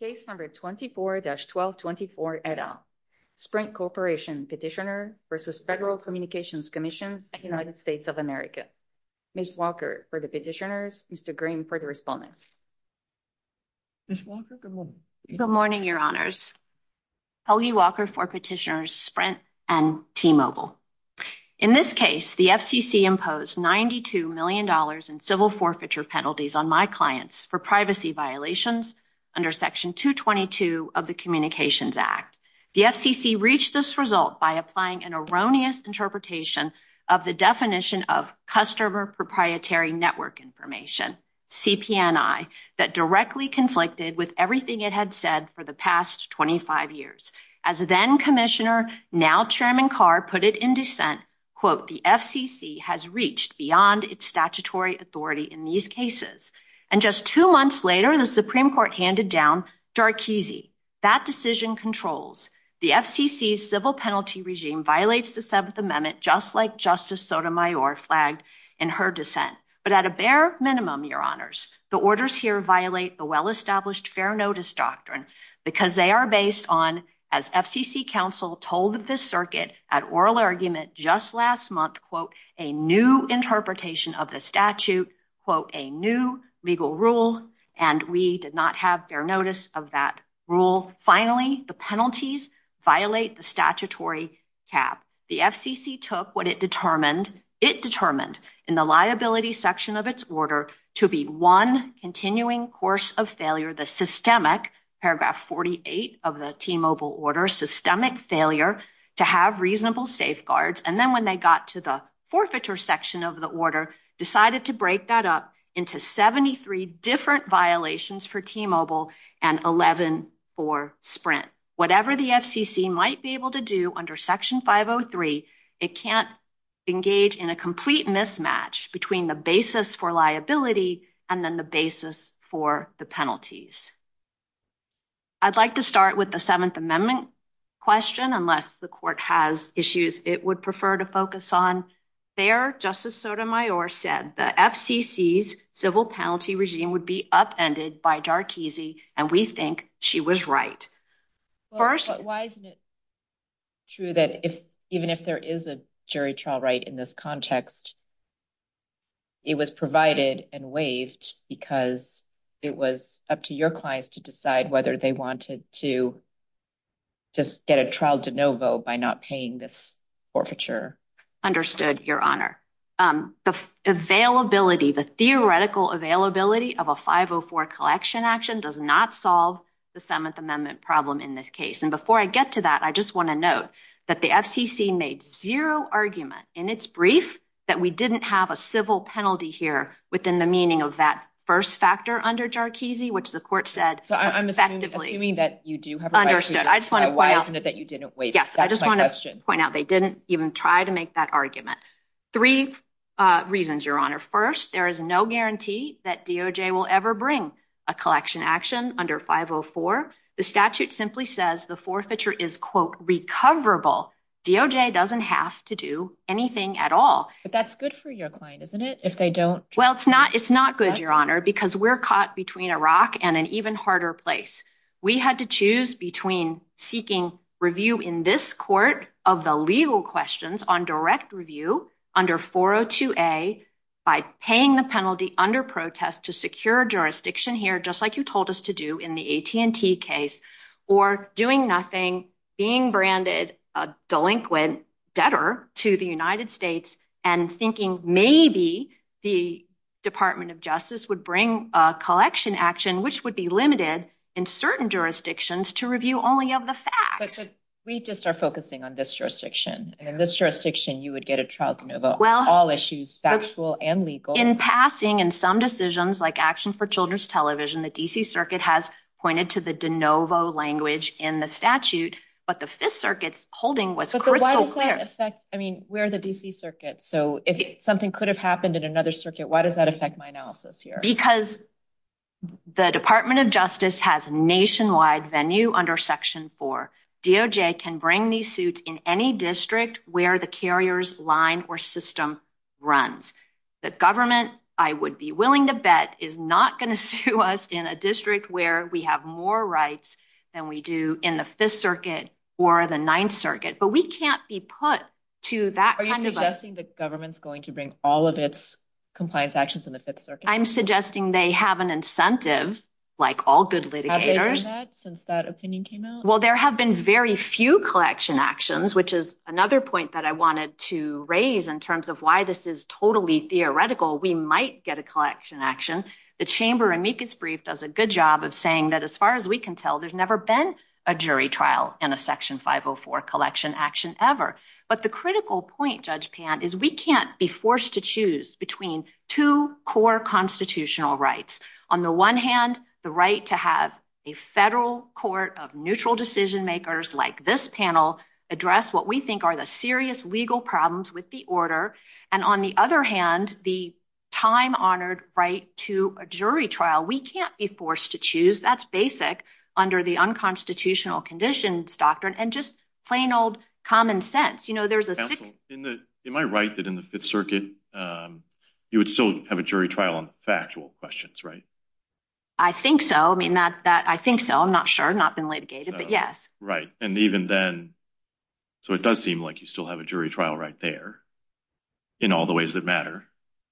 Case No. 24-1224, et al. Sprint Corporation Petitioner v. Federal Communications Commission, United States of America. Ms. Walker for the petitioners, Mr. Green for the respondents. Ms. Walker, good morning. Good morning, Your Honors. Helgi Walker for petitioners Sprint and T-Mobile. In this case, the FCC imposed $92 million in civil forfeiture penalties on my clients for privacy violations under Section 222 of the Communications Act. The FCC reached this result by applying an erroneous interpretation of the definition of Customer Proprietary Network Information, CPNI, that directly conflicted with everything it had said for the past 25 years. As then-Commissioner, now-Chairman Carr put it in dissent, quote, the FCC has reached beyond its statutory authority in these cases. And just two months later, the Supreme Court handed down Darkeese. That decision controls. The FCC's civil penalty regime violates the Seventh Amendment, just like Justice Sotomayor flagged in her dissent. But at a bare minimum, Your Honors, the orders here violate the well-established fair notice doctrine because they are based on, as FCC counsel told the circuit at oral argument just last month, quote, a new interpretation of the statute, quote, a new legal rule. And we did not have fair notice of that rule. Finally, the penalties violate the statutory cap. The FCC took what it determined it determined in the liability section of its order to be one continuing course of failure, the systemic, paragraph 48 of the T-Mobile order, systemic failure to have reasonable safeguards. And then when they got to the forfeiture section of the order, decided to break that up into 73 different violations for T-Mobile and 11 for Sprint. Whatever the FCC might be able to do under Section 503, it can't engage in a complete mismatch between the basis for liability and then the basis for the penalties. I'd like to start with the Seventh Amendment question, unless the court has issues it would prefer to focus on. There, Justice Sotomayor said the FCC's civil penalty regime would be upended by Darkeese, and we think she was right. Why isn't it true that even if there is a jury trial right in this context, it was provided and waived because it was up to your clients to decide whether they wanted to just get a trial de novo by not paying this forfeiture? Understood, Your Honor. The availability, the theoretical availability of a 504 collection action does not solve the Seventh Amendment problem in this case. And before I get to that, I just want to note that the FCC made zero argument in its brief that we didn't have a civil penalty here within the meaning of that first factor under Darkeese, which the court said. So I'm assuming that you do have understood. I just want to point out that you didn't wait. Yes, I just want to point out they didn't even try to make that argument. Three reasons, Your Honor. First, there is no guarantee that DOJ will ever bring a collection action under 504. The statute simply says the forfeiture is, quote, recoverable. DOJ doesn't have to do anything at all. But that's good for your client, isn't it, if they don't? Well, it's not. It's not good, Your Honor, because we're caught between a rock and an even harder place. We had to choose between seeking review in this court of the legal questions on direct review under 402A by paying the penalty under protest to secure jurisdiction here, just like you told us to do in the AT&T case, or doing nothing, being branded a delinquent debtor to the United States and thinking maybe the Department of Justice would bring a collection action, which would be limited in certain jurisdictions to review only of the facts. But we just are focusing on this jurisdiction. In this jurisdiction, you would get a trial de novo on all issues, factual and legal. In passing, in some decisions, like action for children's television, the D.C. Circuit has pointed to the de novo language in the statute. But the Fifth Circuit's holding was crystal clear. I mean, we're the D.C. Circuit. So if something could have happened in another circuit, why does that affect my analysis here? Because the Department of Justice has a nationwide venue under Section 4. DOJ can bring these suits in any district where the carrier's line or system runs. The government, I would be willing to bet, is not going to sue us in a district where we have more rights than we do in the Fifth Circuit or the Ninth Circuit. But we can't be put to that kind of a... Are you suggesting the government's going to bring all of its compliance actions in the Fifth Circuit? I'm suggesting they have an incentive, like all good litigators. Have they done that since that opinion came out? Well, there have been very few collection actions, which is another point that I wanted to raise in terms of why this is totally theoretical. We might get a collection action. The Chamber amicus brief does a good job of saying that as far as we can tell, there's never been a jury trial in a Section 504 collection action ever. But the critical point, Judge Pan, is we can't be forced to choose between two core constitutional rights. On the one hand, the right to have a federal court of neutral decision-makers like this panel address what we think are the serious legal problems with the order. And on the other hand, the time-honored right to a jury trial, we can't be forced to choose. That's basic under the unconstitutional conditions doctrine and just plain old common sense. Am I right that in the Fifth Circuit, you would still have a jury trial on factual questions, right? I think so. I mean, I think so. I'm not sure. I've not been litigated, but yes. Right. And even then, so it does seem like you still have a jury trial right there in all the ways that matter.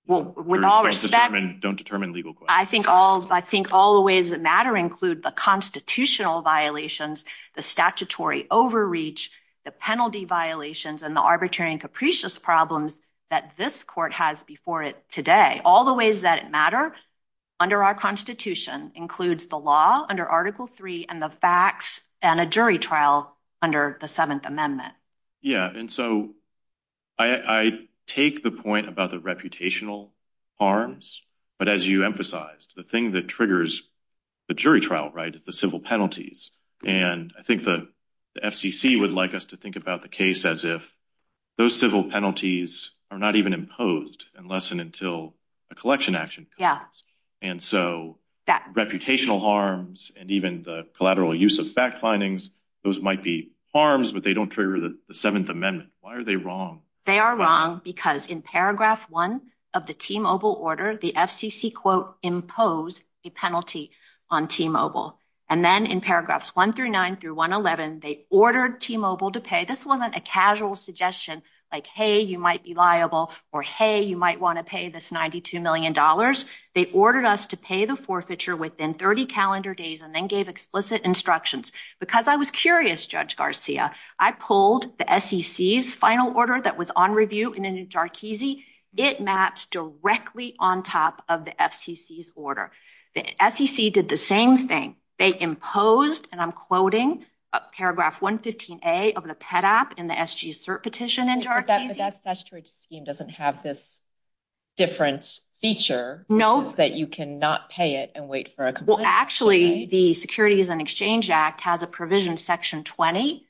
Well, with all respect... Don't determine legal questions. I think all the ways that matter include the constitutional violations, the statutory overreach, the penalty violations, and the arbitrary and capricious problems that this court has before it today. All the ways that matter under our Constitution includes the law under Article III and the facts and a jury trial under the Seventh Amendment. Yeah. And so I take the point about the reputational harms, but as you emphasized, the thing that triggers the jury trial, right, is the civil penalties. And I think the FCC would like us to think about the case as if those civil penalties are not even imposed unless and until a collection action comes. And so that reputational harms and even the collateral use of fact findings, those might be harms, but they don't trigger the Seventh Amendment. Why are they wrong? They are wrong because in paragraph one of the T-Mobile order, the FCC, quote, imposed a penalty on T-Mobile. And then in paragraphs one through nine through 111, they ordered T-Mobile to pay. This wasn't a casual suggestion like, hey, you might be liable or, hey, you might want to pay this $92 million. They ordered us to pay the forfeiture within 30 calendar days and then gave explicit instructions. Because I was curious, Judge Garcia, I pulled the SEC's final order that was on review in a new Jarkizi. It maps directly on top of the FCC's order. The SEC did the same thing. They imposed, and I'm quoting, paragraph 115A of the PEDAP in the SGCERT petition in Jarkizi. But that statutory scheme doesn't have this different feature. No. That you cannot pay it and wait for a complaint. Well, actually, the Securities and Exchange Act has a provision, section 20,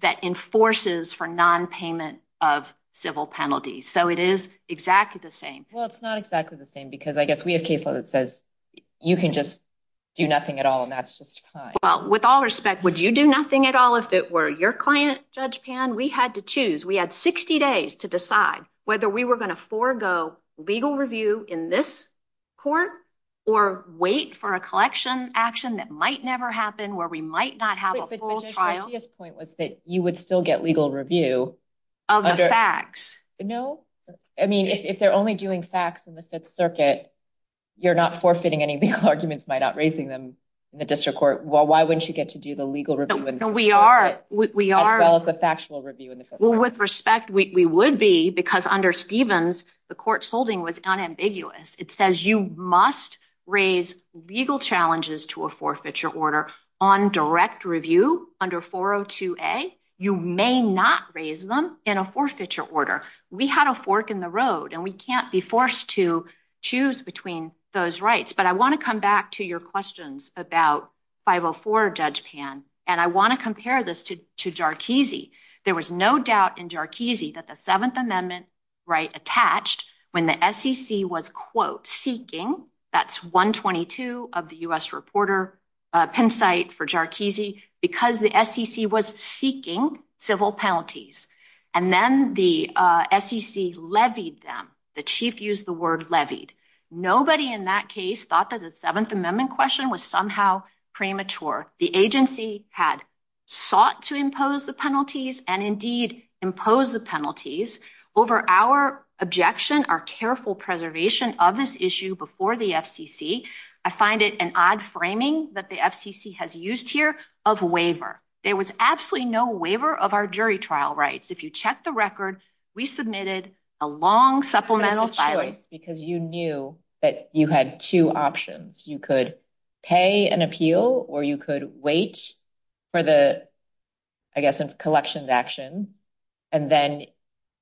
that enforces for nonpayment of civil penalties. So it is exactly the same. Well, it's not exactly the same because I guess we have case law that says you can just do nothing at all and that's just fine. Well, with all respect, would you do nothing at all if it were your client, Judge Pan? We had to choose. We had 60 days to decide whether we were going to forego legal review in this court or wait for a collection action that might never happen where we might not have a full trial. But Judge Garcia's point was that you would still get legal review. Of the facts. No. I mean, if they're only doing facts in the Fifth Circuit, you're not forfeiting any legal arguments by not raising them in the district court. Well, why wouldn't you get to do the legal review in the Fifth Circuit as well as the factual review in the Fifth Circuit? Well, with respect, we would be because under Stevens, the court's holding was unambiguous. It says you must raise legal challenges to a forfeiture order on direct review under 402A. You may not raise them in a forfeiture order. We had a fork in the road and we can't be forced to choose between those rights. But I want to come back to your questions about 504, Judge Pan. And I want to compare this to to Jarkissi. There was no doubt in Jarkissi that the Seventh Amendment right attached when the SEC was, quote, seeking. That's 122 of the U.S. reporter pen site for Jarkissi because the SEC was seeking civil penalties. And then the SEC levied them. The chief used the word levied. Nobody in that case thought that the Seventh Amendment question was somehow premature. The agency had sought to impose the penalties and indeed impose the penalties over our objection, our careful preservation of this issue before the FCC. I find it an odd framing that the FCC has used here of waiver. There was absolutely no waiver of our jury trial rights. If you check the record, we submitted a long supplemental. Because you knew that you had two options. You could pay an appeal or you could wait for the, I guess, collections action. And then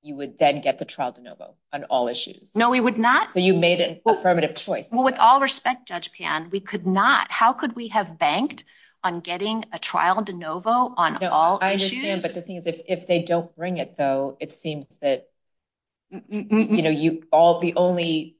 you would then get the trial de novo on all issues. No, we would not. So you made an affirmative choice. Well, with all respect, Judge Pan, we could not. How could we have banked on getting a trial de novo on all issues? But the thing is, if they don't bring it, though, it seems that, you know, you all the only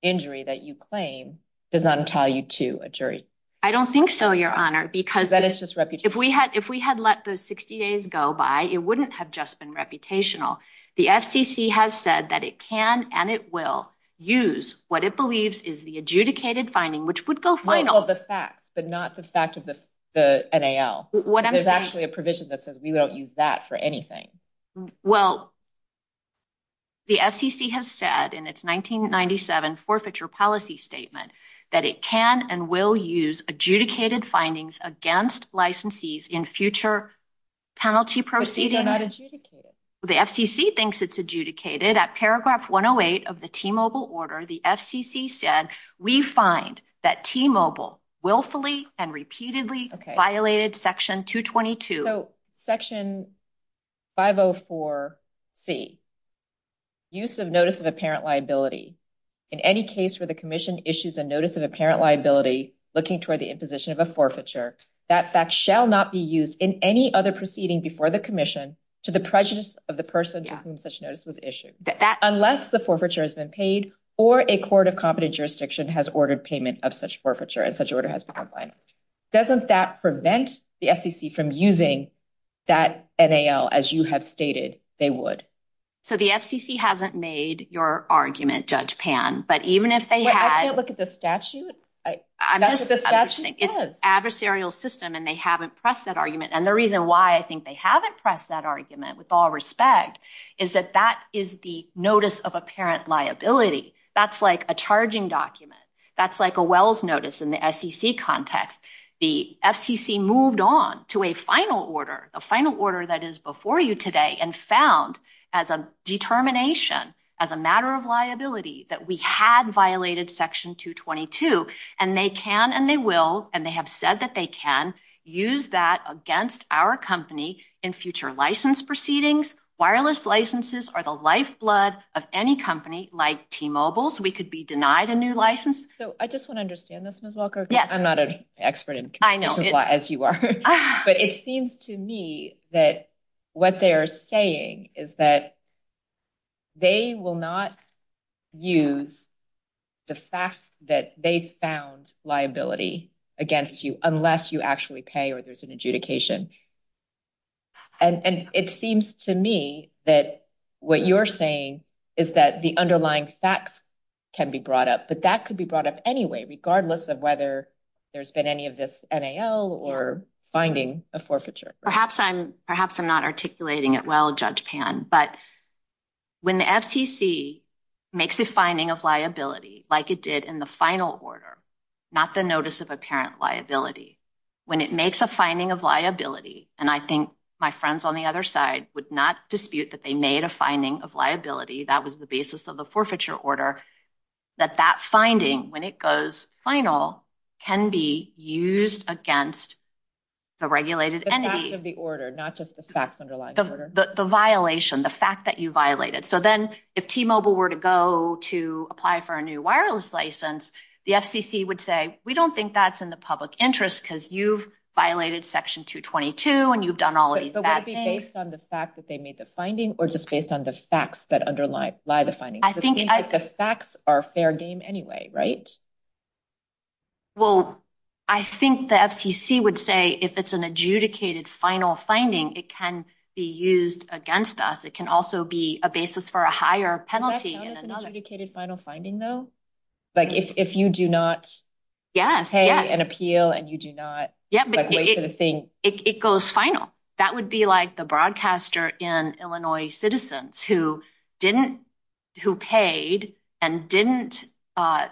injury that you claim does not entail you to a jury. I don't think so, Your Honor, because that is just if we had if we had let those 60 days go by, it wouldn't have just been reputational. The FCC has said that it can and it will use what it believes is the adjudicated finding, which would go find all the facts, but not the fact of the NAL. What is actually a provision that says we don't use that for anything? The FCC has said in its 1997 forfeiture policy statement that it can and will use adjudicated findings against licensees in future. Penalty proceedings are not adjudicated. The FCC thinks it's adjudicated at paragraph 108 of the T-Mobile order. The FCC said we find that T-Mobile willfully and repeatedly violated Section 222. So Section 504C, use of notice of apparent liability in any case where the commission issues a notice of apparent liability looking toward the imposition of a forfeiture. That fact shall not be used in any other proceeding before the commission to the prejudice of the person to whom such notice was issued. Unless the forfeiture has been paid or a court of competent jurisdiction has ordered payment of such forfeiture and such order has been complied. Doesn't that prevent the FCC from using that NAL as you have stated they would? So the FCC hasn't made your argument, Judge Pan, but even if they had. I can't look at the statute. I'm just saying it's adversarial system and they haven't pressed that argument. And the reason why I think they haven't pressed that argument with all respect is that that is the notice of apparent liability. That's like a charging document. That's like a Wells notice in the SEC context. The FCC moved on to a final order, a final order that is before you today and found as a determination, as a matter of liability, that we had violated Section 222. And they can and they will. And they have said that they can use that against our company in future license proceedings. Wireless licenses are the lifeblood of any company like T-Mobile's. We could be denied a new license. So I just want to understand this, Ms. Walker. Yes. I'm not an expert as you are. But it seems to me that what they are saying is that they will not use the fact that they found liability against you unless you actually pay or there's an adjudication. And it seems to me that what you're saying is that the underlying facts can be brought up. But that could be brought up anyway, regardless of whether there's been any of this NAL or finding a forfeiture. Perhaps I'm not articulating it well, Judge Pan. But when the FCC makes a finding of liability, like it did in the final order, not the notice of apparent liability, when it makes a finding of liability, and I think my friends on the other side would not dispute that they made a finding of liability, that was the basis of the forfeiture order, that that finding, when it goes final, can be used against the regulated entity. The facts of the order, not just the facts underlying the order. The violation, the fact that you violated. So then if T-Mobile were to go to apply for a new wireless license, the FCC would say, we don't think that's in the public interest because you've violated Section 222 and you've done all of these bad things. But would it be based on the fact that they made the finding or just based on the facts that underlie the finding? I think I... The facts are fair game anyway, right? Well, I think the FCC would say if it's an adjudicated final finding, it can be used against us. It can also be a basis for a higher penalty. Can that count as an adjudicated final finding, though? Like, if you do not pay an appeal and you do not wait for the thing. It goes final. That would be like the broadcaster in Illinois Citizens who paid and didn't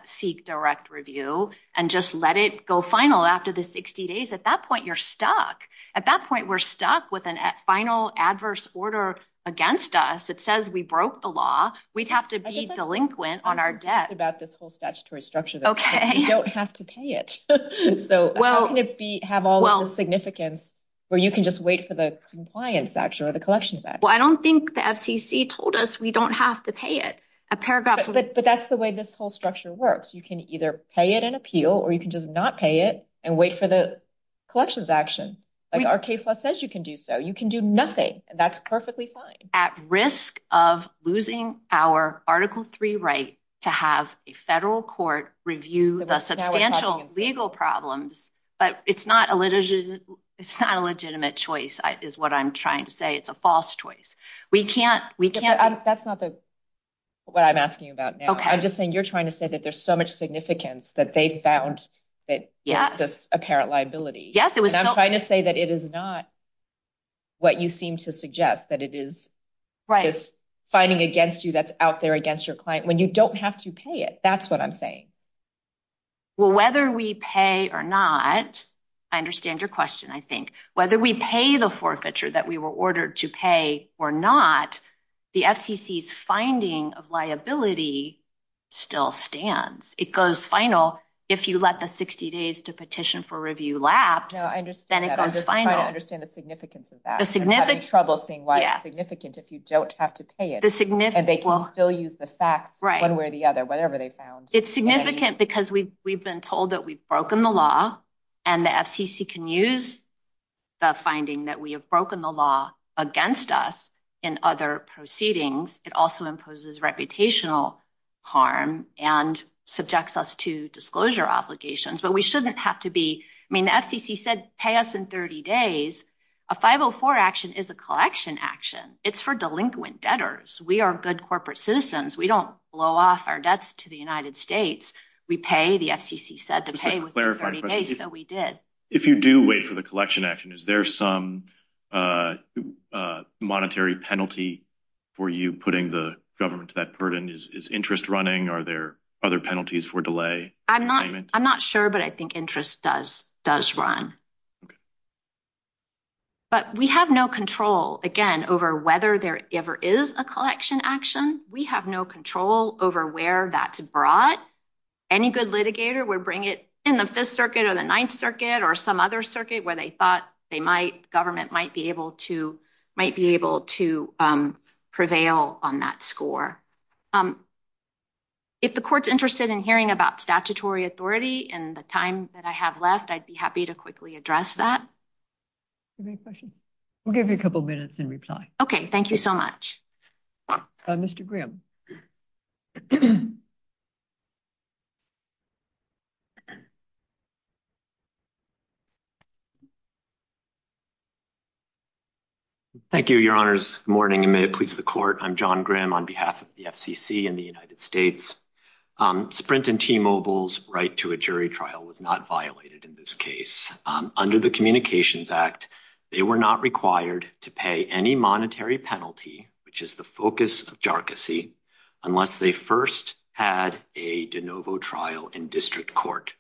seek direct review and just let it go final after the 60 days. At that point, you're stuck. At that point, we're stuck with a final adverse order against us. It says we broke the law. We'd have to be delinquent on our debt. Okay. We don't have to pay it. So how can it have all of the significance where you can just wait for the compliance action or the collections action? Well, I don't think the FCC told us we don't have to pay it. But that's the way this whole structure works. You can either pay it an appeal or you can just not pay it and wait for the collections action. Like, our case law says you can do so. You can do nothing, and that's perfectly fine. We are at risk of losing our Article 3 right to have a federal court review the substantial legal problems. But it's not a legitimate choice is what I'm trying to say. It's a false choice. We can't. That's not what I'm asking about now. I'm just saying you're trying to say that there's so much significance that they found that this apparent liability. Yes, it was. I'm trying to say that it is not what you seem to suggest, that it is this fighting against you that's out there against your client when you don't have to pay it. That's what I'm saying. Well, whether we pay or not, I understand your question, I think. Whether we pay the forfeiture that we were ordered to pay or not, the FCC's finding of liability still stands. It goes final. If you let the 60 days to petition for review lapse, then it goes final. I'm just trying to understand the significance of that. I'm having trouble seeing why it's significant if you don't have to pay it. And they can still use the facts one way or the other, whatever they found. It's significant because we've been told that we've broken the law, and the FCC can use the finding that we have broken the law against us in other proceedings. It also imposes reputational harm and subjects us to disclosure obligations. But we shouldn't have to be – I mean, the FCC said pay us in 30 days. A 504 action is a collection action. It's for delinquent debtors. We are good corporate citizens. We don't blow off our debts to the United States. We pay, the FCC said, to pay within 30 days, so we did. If you do wait for the collection action, is there some monetary penalty for you putting the government to that burden? Is interest running? Are there other penalties for delay? I'm not sure, but I think interest does run. But we have no control, again, over whether there ever is a collection action. We have no control over where that's brought. Any good litigator would bring it in the Fifth Circuit or the Ninth Circuit or some other circuit where they thought they might – government might be able to prevail on that score. If the court's interested in hearing about statutory authority in the time that I have left, I'd be happy to quickly address that. Do you have any questions? We'll give you a couple minutes in reply. Okay, thank you so much. Mr. Grimm. Thank you. Thank you, Your Honors. Good morning, and may it please the court. I'm John Grimm on behalf of the FCC and the United States. Sprint and T-Mobile's right to a jury trial was not violated in this case. Under the Communications Act, they were not required to pay any monetary penalty, which is the focus of jargocy, unless they first had a de novo trial in district court.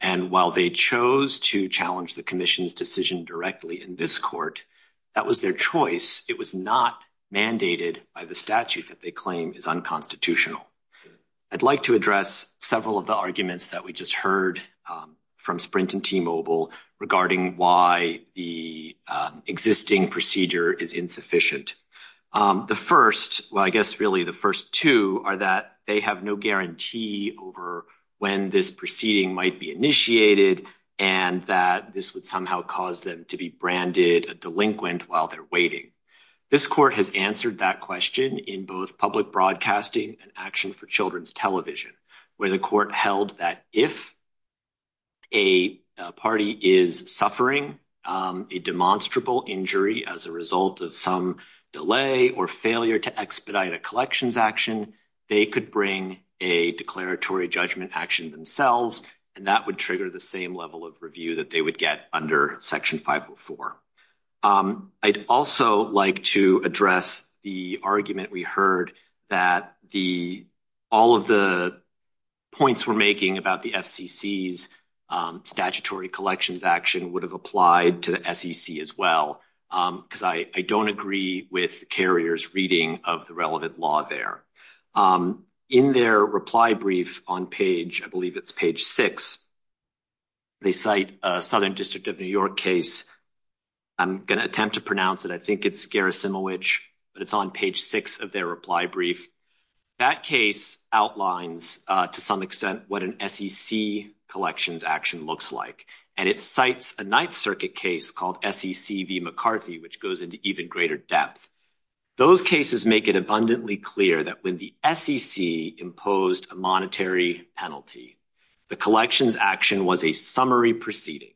And while they chose to challenge the commission's decision directly in this court, that was their choice. It was not mandated by the statute that they claim is unconstitutional. I'd like to address several of the arguments that we just heard from Sprint and T-Mobile regarding why the existing procedure is insufficient. The first – well, I guess really the first two are that they have no guarantee over when this proceeding might be initiated and that this would somehow cause them to be branded a delinquent while they're waiting. This court has answered that question in both public broadcasting and action for children's television, where the court held that if a party is suffering a demonstrable injury as a result of some delay or failure to expedite a collections action, they could bring a declaratory judgment action themselves, and that would trigger the same level of review that they would get under Section 504. I'd also like to address the argument we heard that all of the points we're making about the FCC's statutory collections action would have applied to the SEC as well, because I don't agree with Carrier's reading of the relevant law there. In their reply brief on page – I believe it's page 6, they cite a Southern District of New York case. I'm going to attempt to pronounce it. I think it's Gerasimowicz, but it's on page 6 of their reply brief. That case outlines to some extent what an SEC collections action looks like, and it cites a Ninth Circuit case called SEC v. McCarthy, which goes into even greater depth. Those cases make it abundantly clear that when the SEC imposed a monetary penalty, the collections action was a summary proceeding.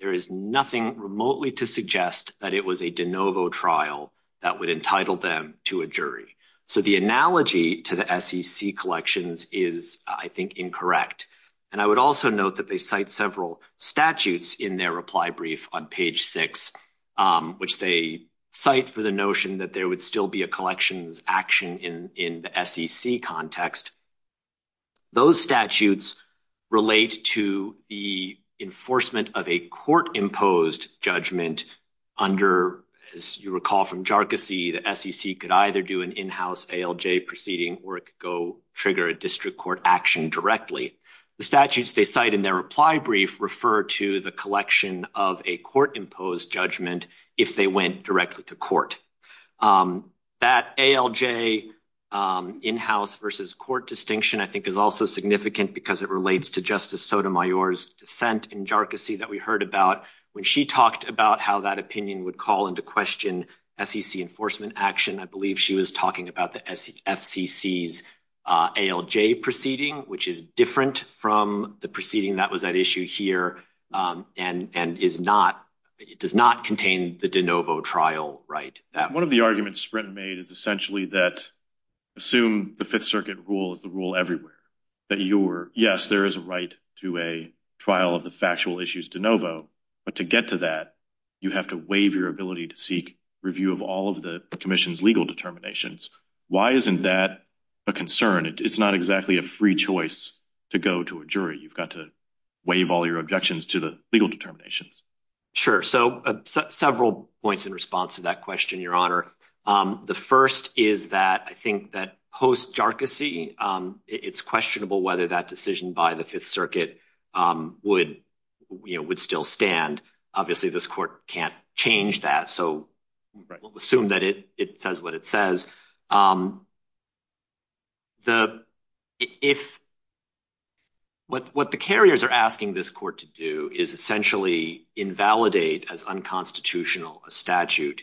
There is nothing remotely to suggest that it was a de novo trial that would entitle them to a jury. So the analogy to the SEC collections is, I think, incorrect. And I would also note that they cite several statutes in their reply brief on page 6, which they cite for the notion that there would still be a collections action in the SEC context. Those statutes relate to the enforcement of a court-imposed judgment under, as you recall from Jarkissi, the SEC could either do an in-house ALJ proceeding or it could go trigger a district court action directly. The statutes they cite in their reply brief refer to the collection of a court-imposed judgment if they went directly to court. That ALJ in-house versus court distinction, I think, is also significant because it relates to Justice Sotomayor's dissent in Jarkissi that we heard about when she talked about how that opinion would call into question SEC enforcement action. I believe she was talking about the FCC's ALJ proceeding, which is different from the proceeding that was at issue here and does not contain the de novo trial right. One of the arguments Sprinton made is essentially that assume the Fifth Circuit rule is the rule everywhere, that you're – yes, there is a right to a trial of the factual issues de novo, but to get to that, you have to waive your ability to seek review of all of the commission's legal determinations. Why isn't that a concern? It's not exactly a free choice to go to a jury. You've got to waive all your objections to the legal determinations. Sure. So several points in response to that question, Your Honor. The first is that I think that post-Jarkissi, it's questionable whether that decision by the Fifth Circuit would still stand. Obviously, this court can't change that, so we'll assume that it says what it says. What the carriers are asking this court to do is essentially invalidate as unconstitutional a statute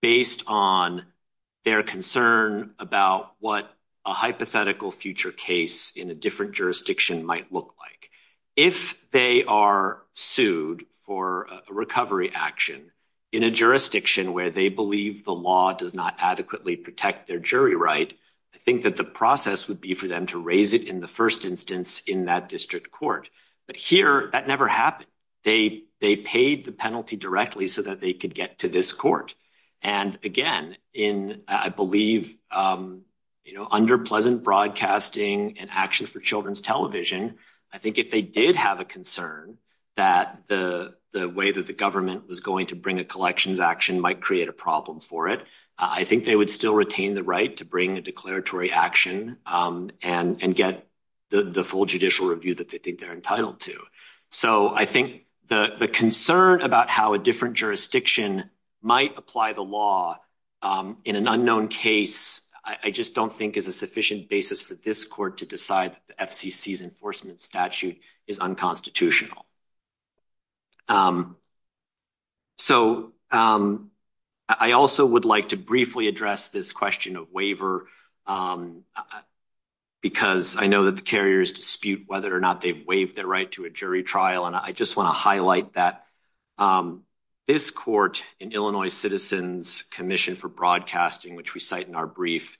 based on their concern about what a hypothetical future case in a different jurisdiction might look like. If they are sued for a recovery action in a jurisdiction where they believe the law does not adequately protect their jury right, I think that the process would be for them to raise it in the first instance in that district court. But here, that never happened. They paid the penalty directly so that they could get to this court. And again, I believe under Pleasant Broadcasting and Action for Children's Television, I think if they did have a concern that the way that the government was going to bring a collections action might create a problem for it, I think they would still retain the right to bring a declaratory action and get the full judicial review that they think they're entitled to. So I think the concern about how a different jurisdiction might apply the law in an unknown case, I just don't think is a sufficient basis for this court to decide that the FCC's enforcement statute is unconstitutional. So I also would like to briefly address this question of waiver, because I know that the carriers dispute whether or not they've waived their right to a jury trial. And I just want to highlight that this court in Illinois Citizens Commission for Broadcasting, which we cite in our brief,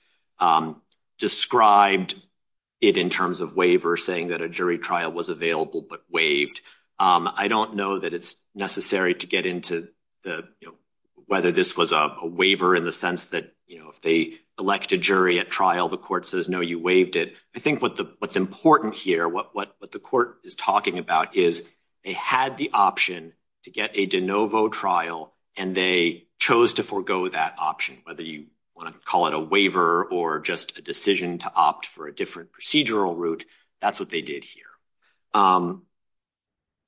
described it in terms of waiver, saying that a jury trial was available but waived. I don't know that it's necessary to get into whether this was a waiver in the sense that if they elect a jury at trial, the court says, no, you waived it. I think what's important here, what the court is talking about is they had the option to get a de novo trial, and they chose to forego that option, whether you want to call it a waiver or just a decision to opt for a different procedural route. That's what they did here.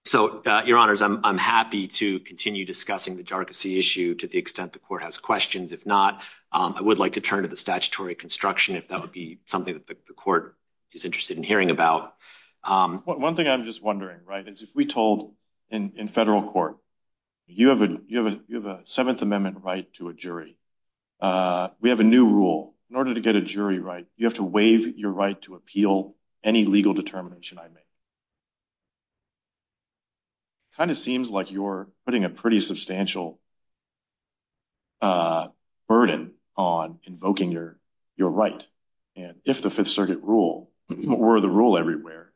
So, your honors, I'm happy to continue discussing the jargony issue to the extent the court has questions. If not, I would like to turn to the statutory construction, if that would be something that the court is interested in hearing about. One thing I'm just wondering, right, is if we told, in federal court, you have a Seventh Amendment right to a jury. We have a new rule. In order to get a jury right, you have to waive your right to appeal any legal determination I make. It kind of seems like you're putting a pretty substantial burden on invoking your right. And if the Fifth Circuit rule were the rule everywhere,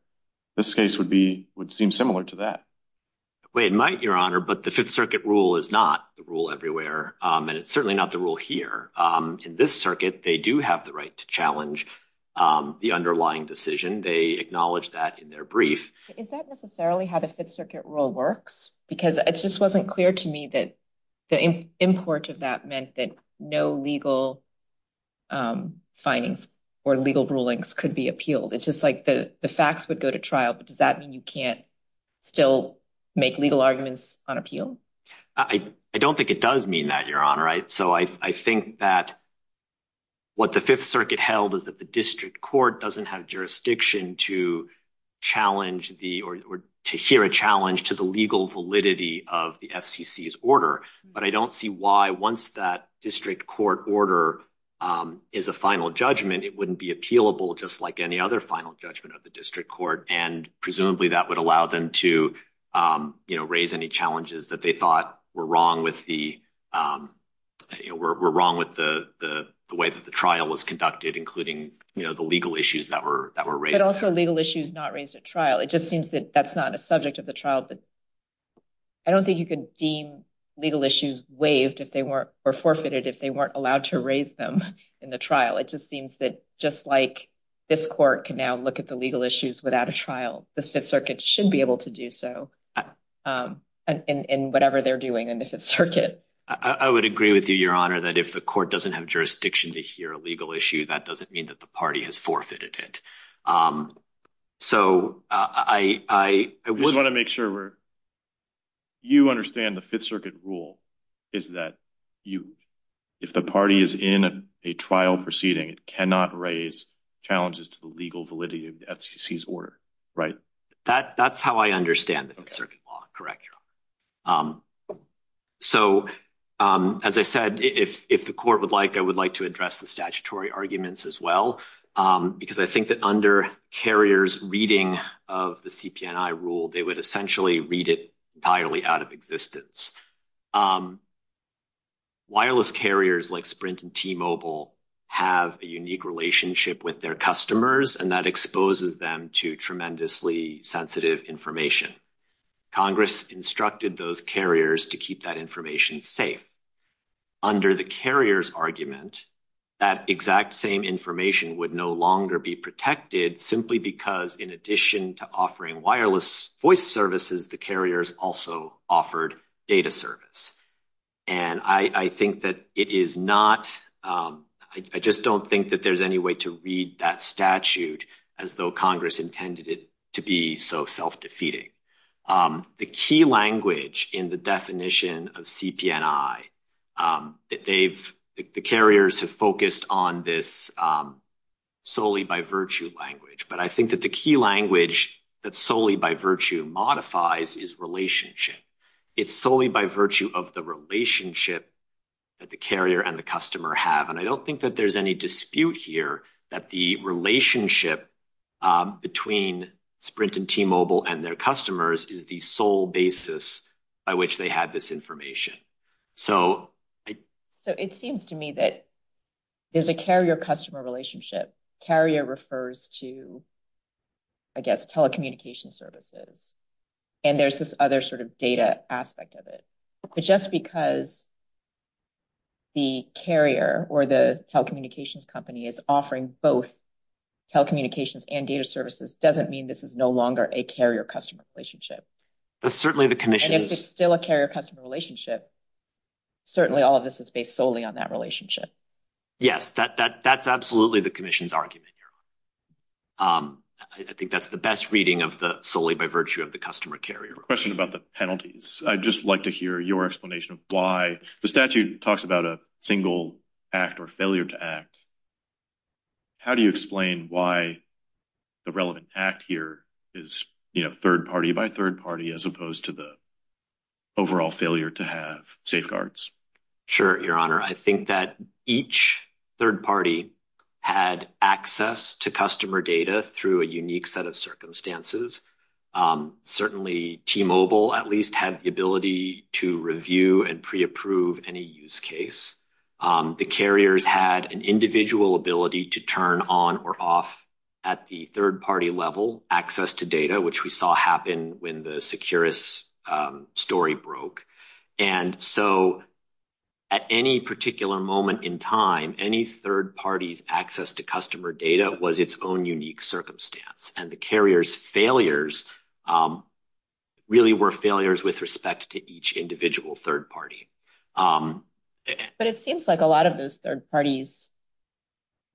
this case would seem similar to that. It might, your honor, but the Fifth Circuit rule is not the rule everywhere, and it's certainly not the rule here. In this circuit, they do have the right to challenge the underlying decision. They acknowledge that in their brief. Is that necessarily how the Fifth Circuit rule works? Because it just wasn't clear to me that the import of that meant that no legal findings or legal rulings could be appealed. It's just like the facts would go to trial, but does that mean you can't still make legal arguments on appeal? I don't think it does mean that, your honor. Right. So I think that what the Fifth Circuit held is that the district court doesn't have jurisdiction to challenge the or to hear a challenge to the legal validity of the FCC's order. But I don't see why once that district court order is a final judgment, it wouldn't be appealable just like any other final judgment of the district court. And presumably that would allow them to raise any challenges that they thought were wrong with the way that the trial was conducted, including the legal issues that were raised. But also legal issues not raised at trial. It just seems that that's not a subject of the trial. But I don't think you can deem legal issues waived if they weren't or forfeited if they weren't allowed to raise them in the trial. It just seems that just like this court can now look at the legal issues without a trial, the Fifth Circuit should be able to do so in whatever they're doing in the Fifth Circuit. I would agree with you, your honor, that if the court doesn't have jurisdiction to hear a legal issue, that doesn't mean that the party has forfeited it. So I would want to make sure. You understand the Fifth Circuit rule is that you if the party is in a trial proceeding, it cannot raise challenges to the legal validity of the FCC's order. Right. That that's how I understand the circuit law. Correct. So, as I said, if if the court would like, I would like to address the statutory arguments as well, because I think that under carriers reading of the CPI rule, they would essentially read it entirely out of existence. Wireless carriers like Sprint and T-Mobile have a unique relationship with their customers, and that exposes them to tremendously sensitive information. Congress instructed those carriers to keep that information safe. Under the carriers argument, that exact same information would no longer be protected simply because in addition to offering wireless voice services, the carriers also offered data service. And I think that it is not I just don't think that there's any way to read that statute as though Congress intended it to be so self-defeating. The key language in the definition of CPI that they've the carriers have focused on this solely by virtue language, but I think that the key language that's solely by virtue modifies is relationship. It's solely by virtue of the relationship that the carrier and the customer have. And I don't think that there's any dispute here that the relationship between Sprint and T-Mobile and their customers is the sole basis by which they had this information. So it seems to me that there's a carrier-customer relationship. Carrier refers to, I guess, telecommunications services, and there's this other sort of data aspect of it. But just because the carrier or the telecommunications company is offering both telecommunications and data services doesn't mean this is no longer a carrier-customer relationship. And if it's still a carrier-customer relationship, certainly all of this is based solely on that relationship. Yes, that's absolutely the commission's argument here. I think that's the best reading of the solely by virtue of the customer-carrier. I have a question about the penalties. I'd just like to hear your explanation of why the statute talks about a single act or failure to act. How do you explain why the relevant act here is third party by third party as opposed to the overall failure to have safeguards? Sure, Your Honor. I think that each third party had access to customer data through a unique set of circumstances. Certainly, T-Mobile at least had the ability to review and pre-approve any use case. The carriers had an individual ability to turn on or off at the third-party level access to data, which we saw happen when the Securus story broke. And so at any particular moment in time, any third party's access to customer data was its own unique circumstance. And the carriers' failures really were failures with respect to each individual third party. But it seems like a lot of those third parties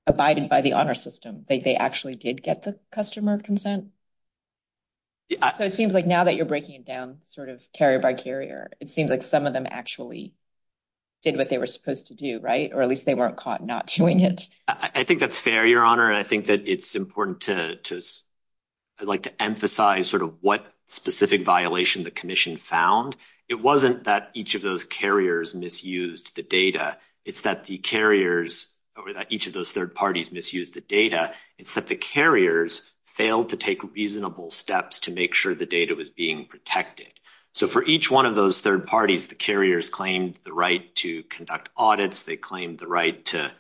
abided by the honor system. They actually did get the customer consent. So it seems like now that you're breaking it down sort of carrier by carrier, it seems like some of them actually did what they were supposed to do, right? Or at least they weren't caught not doing it. I think that's fair, Your Honor. I think that it's important to emphasize sort of what specific violation the commission found. It wasn't that each of those carriers misused the data. It's that the carriers or that each of those third parties misused the data. It's that the carriers failed to take reasonable steps to make sure the data was being protected. So for each one of those third parties, the carriers claimed the right to conduct audits. They claimed the right to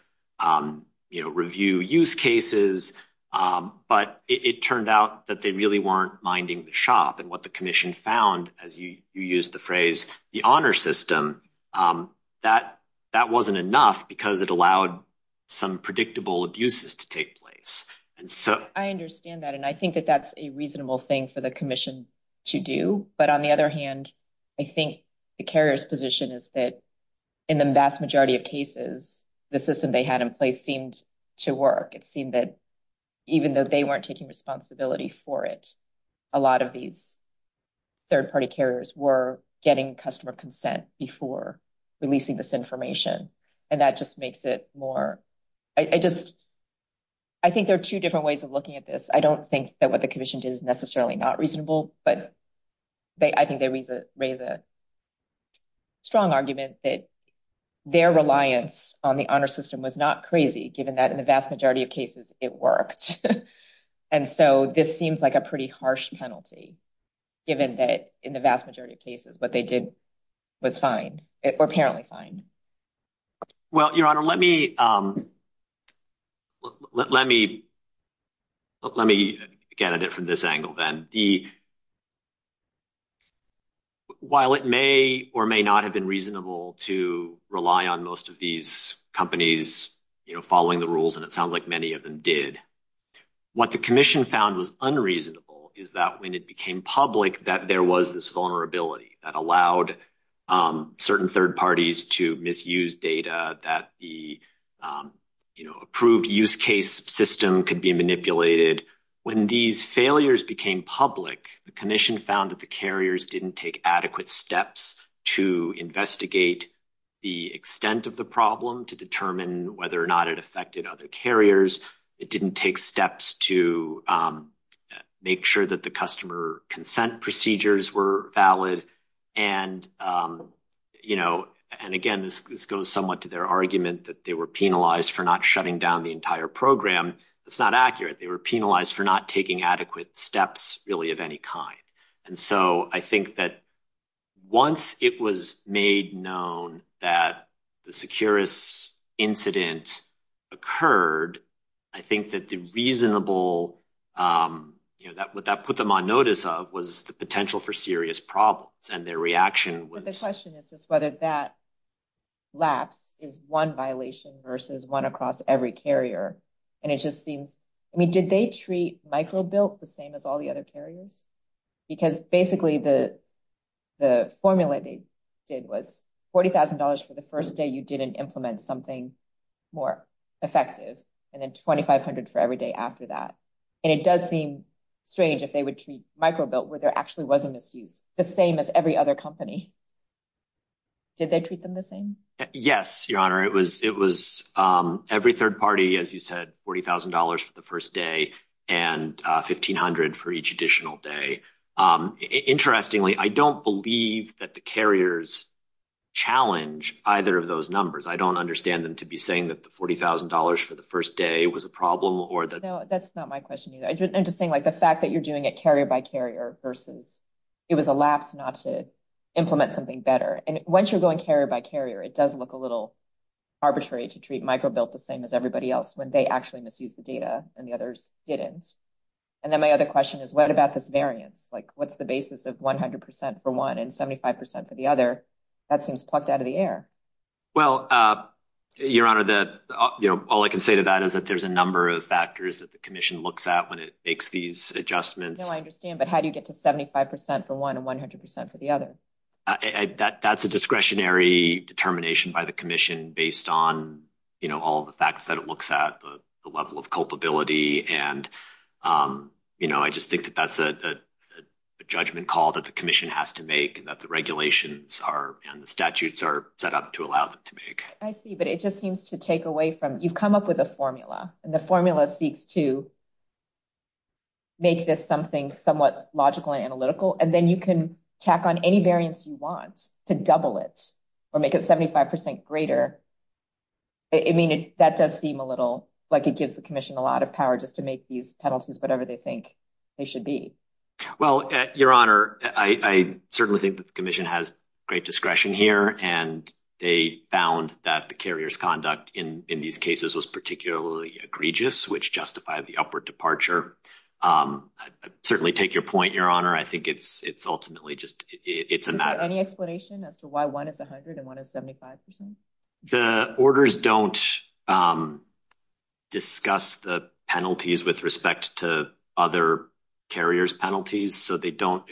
review use cases. But it turned out that they really weren't minding the shop. And what the commission found, as you used the phrase, the honor system, that that wasn't enough because it allowed some predictable abuses to take place. And so I understand that. And I think that that's a reasonable thing for the commission to do. But on the other hand, I think the carrier's position is that in the vast majority of cases, the system they had in place seemed to work. It seemed that even though they weren't taking responsibility for it, a lot of these third party carriers were getting customer consent before releasing this information. And that just makes it more. I just I think there are two different ways of looking at this. I don't think that what the commission is necessarily not reasonable, but I think they raise a strong argument that their reliance on the honor system was not crazy, given that in the vast majority of cases it worked. And so this seems like a pretty harsh penalty, given that in the vast majority of cases, what they did was fine. Apparently fine. Well, your honor, let me. Let me. Let me get it from this angle, then the. While it may or may not have been reasonable to rely on most of these companies following the rules, and it sounds like many of them did what the commission found was unreasonable, is that when it became public that there was this vulnerability that allowed certain third parties to misuse data that the approved use case system could be manipulated. When these failures became public, the commission found that the carriers didn't take adequate steps to investigate the extent of the problem to determine whether or not it affected other carriers. It didn't take steps to make sure that the customer consent procedures were valid. And, you know, and again, this goes somewhat to their argument that they were penalized for not shutting down the entire program. That's not accurate. They were penalized for not taking adequate steps, really, of any kind. And so I think that once it was made known that the security incident occurred, I think that the reasonable that that put them on notice of was the potential for serious problems. The question is just whether that lapse is one violation versus one across every carrier. And it just seems, I mean, did they treat micro built the same as all the other carriers? Because basically the, the formula they did was $40,000 for the first day you didn't implement something more effective and then 2,500 for every day after that. And it does seem strange if they would treat micro built where there actually was a misuse the same as every other company. Did they treat them the same? Yes, your honor. It was it was every third party, as you said, $40,000 for the first day and 1,500 for each additional day. Interestingly, I don't believe that the carriers challenge either of those numbers. I don't understand them to be saying that the $40,000 for the first day was a problem or that that's not my question either. I'm just saying, like, the fact that you're doing it carrier by carrier versus it was a lapse not to implement something better. And once you're going carrier by carrier, it does look a little arbitrary to treat micro built the same as everybody else when they actually misuse the data and the others didn't. And then my other question is, what about this variance? Like, what's the basis of 100% for one and 75% for the other? That seems plucked out of the air. Well, your honor, that all I can say to that is that there's a number of factors that the commission looks at when it makes these adjustments. I understand. But how do you get to 75% for one and 100% for the other? That that's a discretionary determination by the commission based on all the facts that it looks at, the level of culpability. And, you know, I just think that that's a judgment call that the commission has to make that the regulations are and the statutes are set up to allow them to make. I see, but it just seems to take away from you've come up with a formula and the formula seeks to. Make this something somewhat logical and analytical, and then you can tack on any variance you want to double it or make it 75% greater. I mean, that does seem a little like it gives the commission a lot of power just to make these penalties, whatever they think they should be. Well, your honor, I certainly think the commission has great discretion here, and they found that the carrier's conduct in these cases was particularly egregious, which justified the upward departure. Certainly take your point, your honor. I think it's, it's ultimately just, it's a matter of any explanation as to why one is 100 and one is 75%. The orders don't discuss the penalties with respect to other carriers penalties, so they don't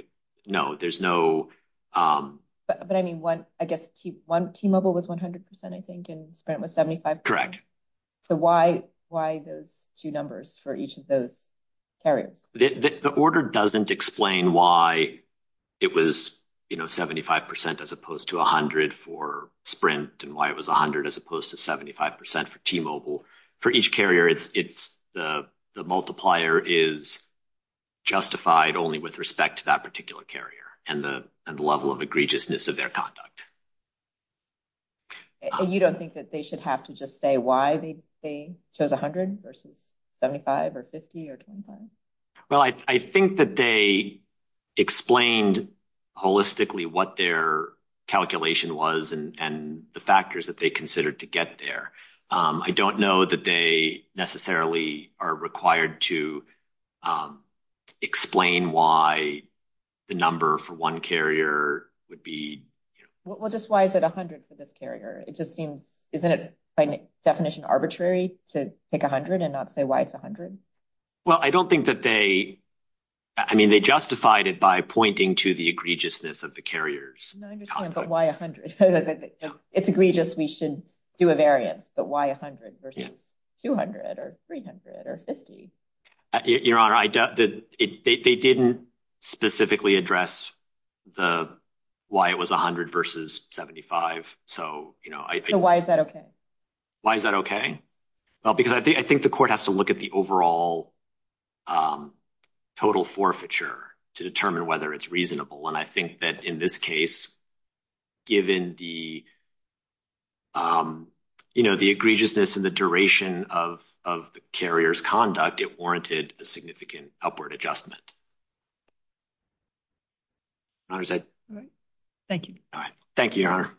know there's no. But I mean, I guess T-Mobile was 100%, I think, and Sprint was 75%. Correct. So why those two numbers for each of those carriers? The order doesn't explain why it was 75% as opposed to 100 for Sprint and why it was 100 as opposed to 75% for T-Mobile. For each carrier, it's the multiplier is justified only with respect to that particular carrier and the level of egregiousness of their conduct. You don't think that they should have to just say why they chose 100 versus 75 or 50 or 25? Well, I think that they explained holistically what their calculation was and the factors that they considered to get there. I don't know that they necessarily are required to explain why the number for one carrier would be. Well, just why is it 100 for this carrier? It just seems, isn't it by definition arbitrary to pick 100 and not say why it's 100? Well, I don't think that they, I mean, they justified it by pointing to the egregiousness of the carriers. I understand, but why 100? It's egregious, we should do a variance, but why 100 versus 200 or 300 or 50? Your Honor, they didn't specifically address why it was 100 versus 75. So why is that okay? Why is that okay? Well, because I think the court has to look at the overall total forfeiture to determine whether it's reasonable. And I think that in this case, given the egregiousness and the duration of the carrier's conduct, it warranted a significant upward adjustment. All right. Thank you. All right. Thank you, Your Honor.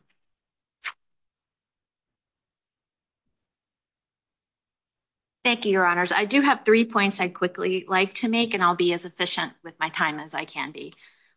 Thank you, Your Honors. I do have three points I'd quickly like to make, and I'll be as efficient with my time as I can be.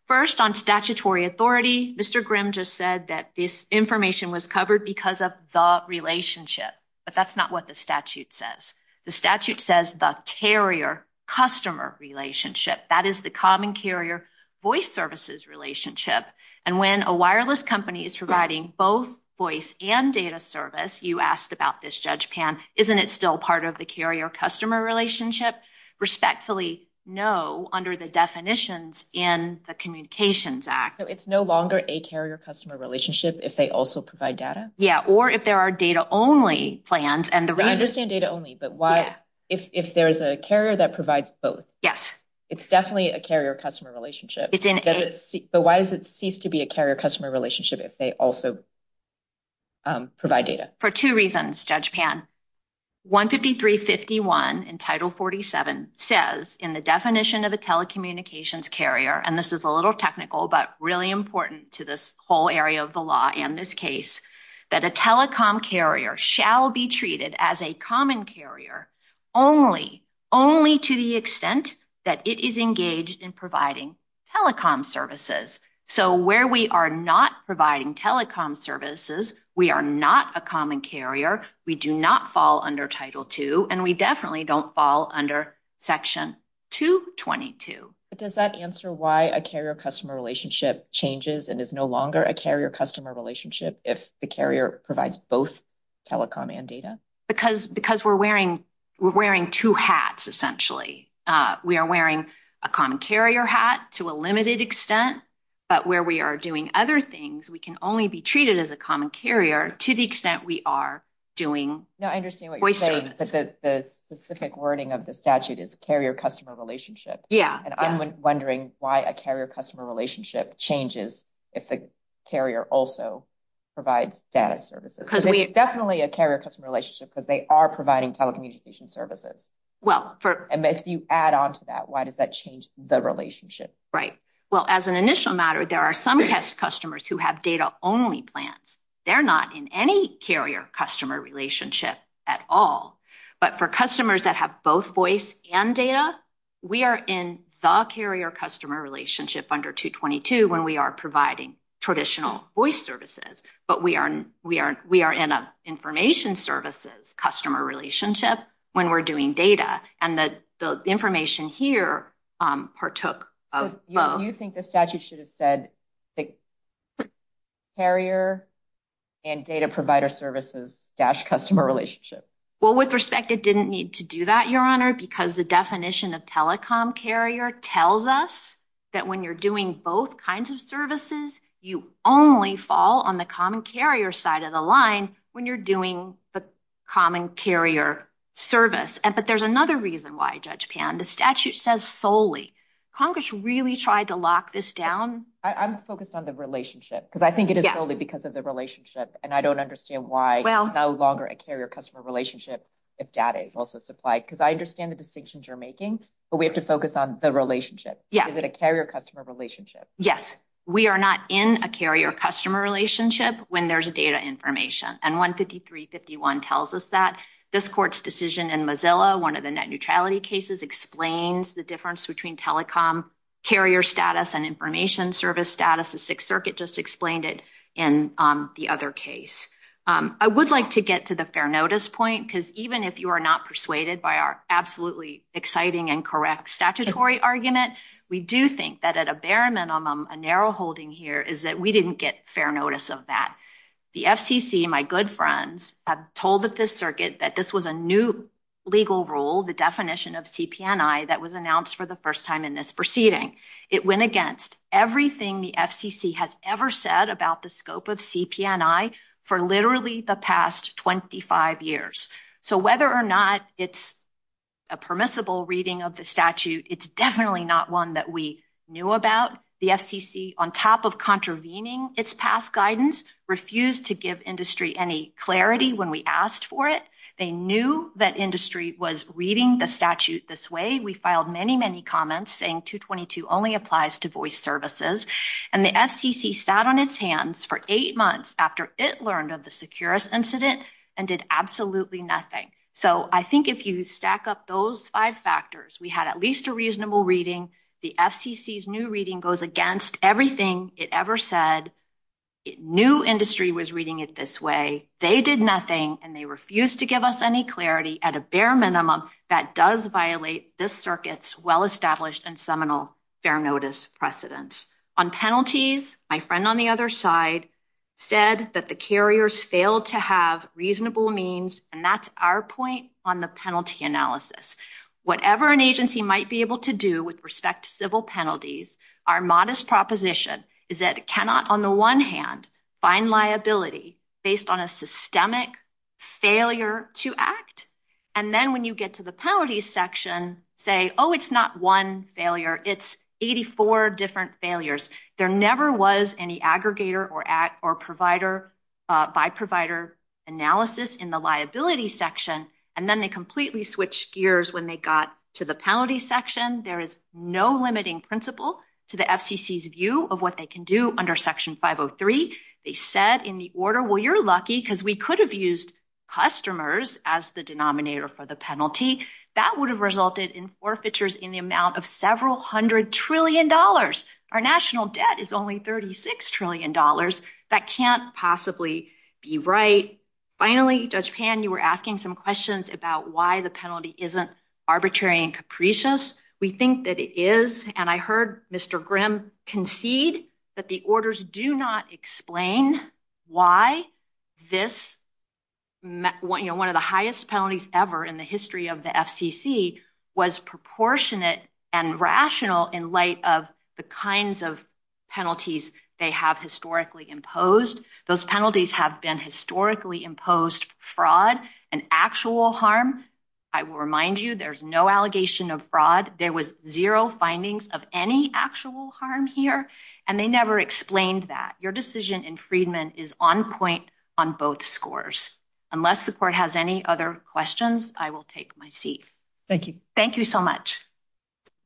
First, on statutory authority, Mr. Grimm just said that this information was covered because of the relationship. But that's not what the statute says. The statute says the carrier-customer relationship. That is the common carrier-voice services relationship. And when a wireless company is providing both voice and data service, you asked about this, Judge Pan, isn't it still part of the carrier-customer relationship? Respectfully, no, under the definitions in the Communications Act. So it's no longer a carrier-customer relationship if they also provide data? Yeah, or if there are data-only plans. I understand data-only, but if there's a carrier that provides both, it's definitely a carrier-customer relationship. But why does it cease to be a carrier-customer relationship if they also provide data? For two reasons, Judge Pan. 15351 in Title 47 says in the definition of a telecommunications carrier, and this is a little technical but really important to this whole area of the law and this case, that a telecom carrier shall be treated as a common carrier only to the extent that it is engaged in providing telecom services. So where we are not providing telecom services, we are not a common carrier, we do not fall under Title II, and we definitely don't fall under Section 222. But does that answer why a carrier-customer relationship changes and is no longer a carrier-customer relationship if the carrier provides both telecom and data? Because we're wearing two hats, essentially. We are wearing a common carrier hat to a limited extent, but where we are doing other things, we can only be treated as a common carrier to the extent we are doing voice service. No, I understand what you're saying, but the specific wording of the statute is carrier-customer relationship. Yeah. And I'm wondering why a carrier-customer relationship changes if the carrier also provides data services. It's definitely a carrier-customer relationship because they are providing telecommunication services. If you add on to that, why does that change the relationship? Right. Well, as an initial matter, there are some customers who have data-only plans. They're not in any carrier-customer relationship at all. But for customers that have both voice and data, we are in the carrier-customer relationship under 222 when we are providing traditional voice services. But we are in an information services-customer relationship when we're doing data, and the information here partook of both. So you think the statute should have said carrier and data provider services-customer relationship? Well, with respect, it didn't need to do that, Your Honor, because the definition of telecom carrier tells us that when you're doing both kinds of services, you only fall on the common carrier side of the line when you're doing the common carrier service. But there's another reason why, Judge Pan. The statute says solely. Congress really tried to lock this down? I'm focused on the relationship because I think it is solely because of the relationship, and I don't understand why it's no longer a carrier-customer relationship if data is also supplied. Because I understand the distinctions you're making, but we have to focus on the relationship. Is it a carrier-customer relationship? Yes. We are not in a carrier-customer relationship when there's data information. And 15351 tells us that. This court's decision in Mozilla, one of the net neutrality cases, explains the difference between telecom carrier status and information service status. The Sixth Circuit just explained it in the other case. I would like to get to the fair notice point because even if you are not persuaded by our absolutely exciting and correct statutory argument, we do think that at a bare minimum, a narrow holding here is that we didn't get fair notice of that. The FCC, my good friends, told the Fifth Circuit that this was a new legal rule, the definition of CP&I, that was announced for the first time in this proceeding. It went against everything the FCC has ever said about the scope of CP&I for literally the past 25 years. So whether or not it's a permissible reading of the statute, it's definitely not one that we knew about. The FCC, on top of contravening its past guidance, refused to give industry any clarity when we asked for it. They knew that industry was reading the statute this way. We filed many, many comments saying 222 only applies to voice services. And the FCC sat on its hands for eight months after it learned of the Securus incident and did absolutely nothing. So I think if you stack up those five factors, we had at least a reasonable reading. The FCC's new reading goes against everything it ever said. New industry was reading it this way. They did nothing, and they refused to give us any clarity at a bare minimum that does violate this circuit's well-established and seminal fair notice precedents. On penalties, my friend on the other side said that the carriers failed to have reasonable means, and that's our point on the penalty analysis. Whatever an agency might be able to do with respect to civil penalties, our modest proposition is that it cannot, on the one hand, find liability based on a systemic failure to act. And then when you get to the penalties section, say, oh, it's not one failure. It's 84 different failures. There never was any aggregator or provider by provider analysis in the liability section, and then they completely switched gears when they got to the penalties section. There is no limiting principle to the FCC's view of what they can do under Section 503. They said in the order, well, you're lucky because we could have used customers as the denominator for the penalty. That would have resulted in forfeitures in the amount of several hundred trillion dollars. Our national debt is only $36 trillion. That can't possibly be right. Finally, Judge Pan, you were asking some questions about why the penalty isn't arbitrary and capricious. We think that it is, and I heard Mr. Grimm concede that the orders do not explain why this one of the highest penalties ever in the history of the FCC was proportionate and rational in light of the kinds of penalties they have historically imposed. Those penalties have been historically imposed fraud and actual harm. I will remind you there's no allegation of fraud. There was zero findings of any actual harm here, and they never explained that. Your decision in Freedman is on point on both scores. Unless the court has any other questions, I will take my seat. Thank you. Thank you so much.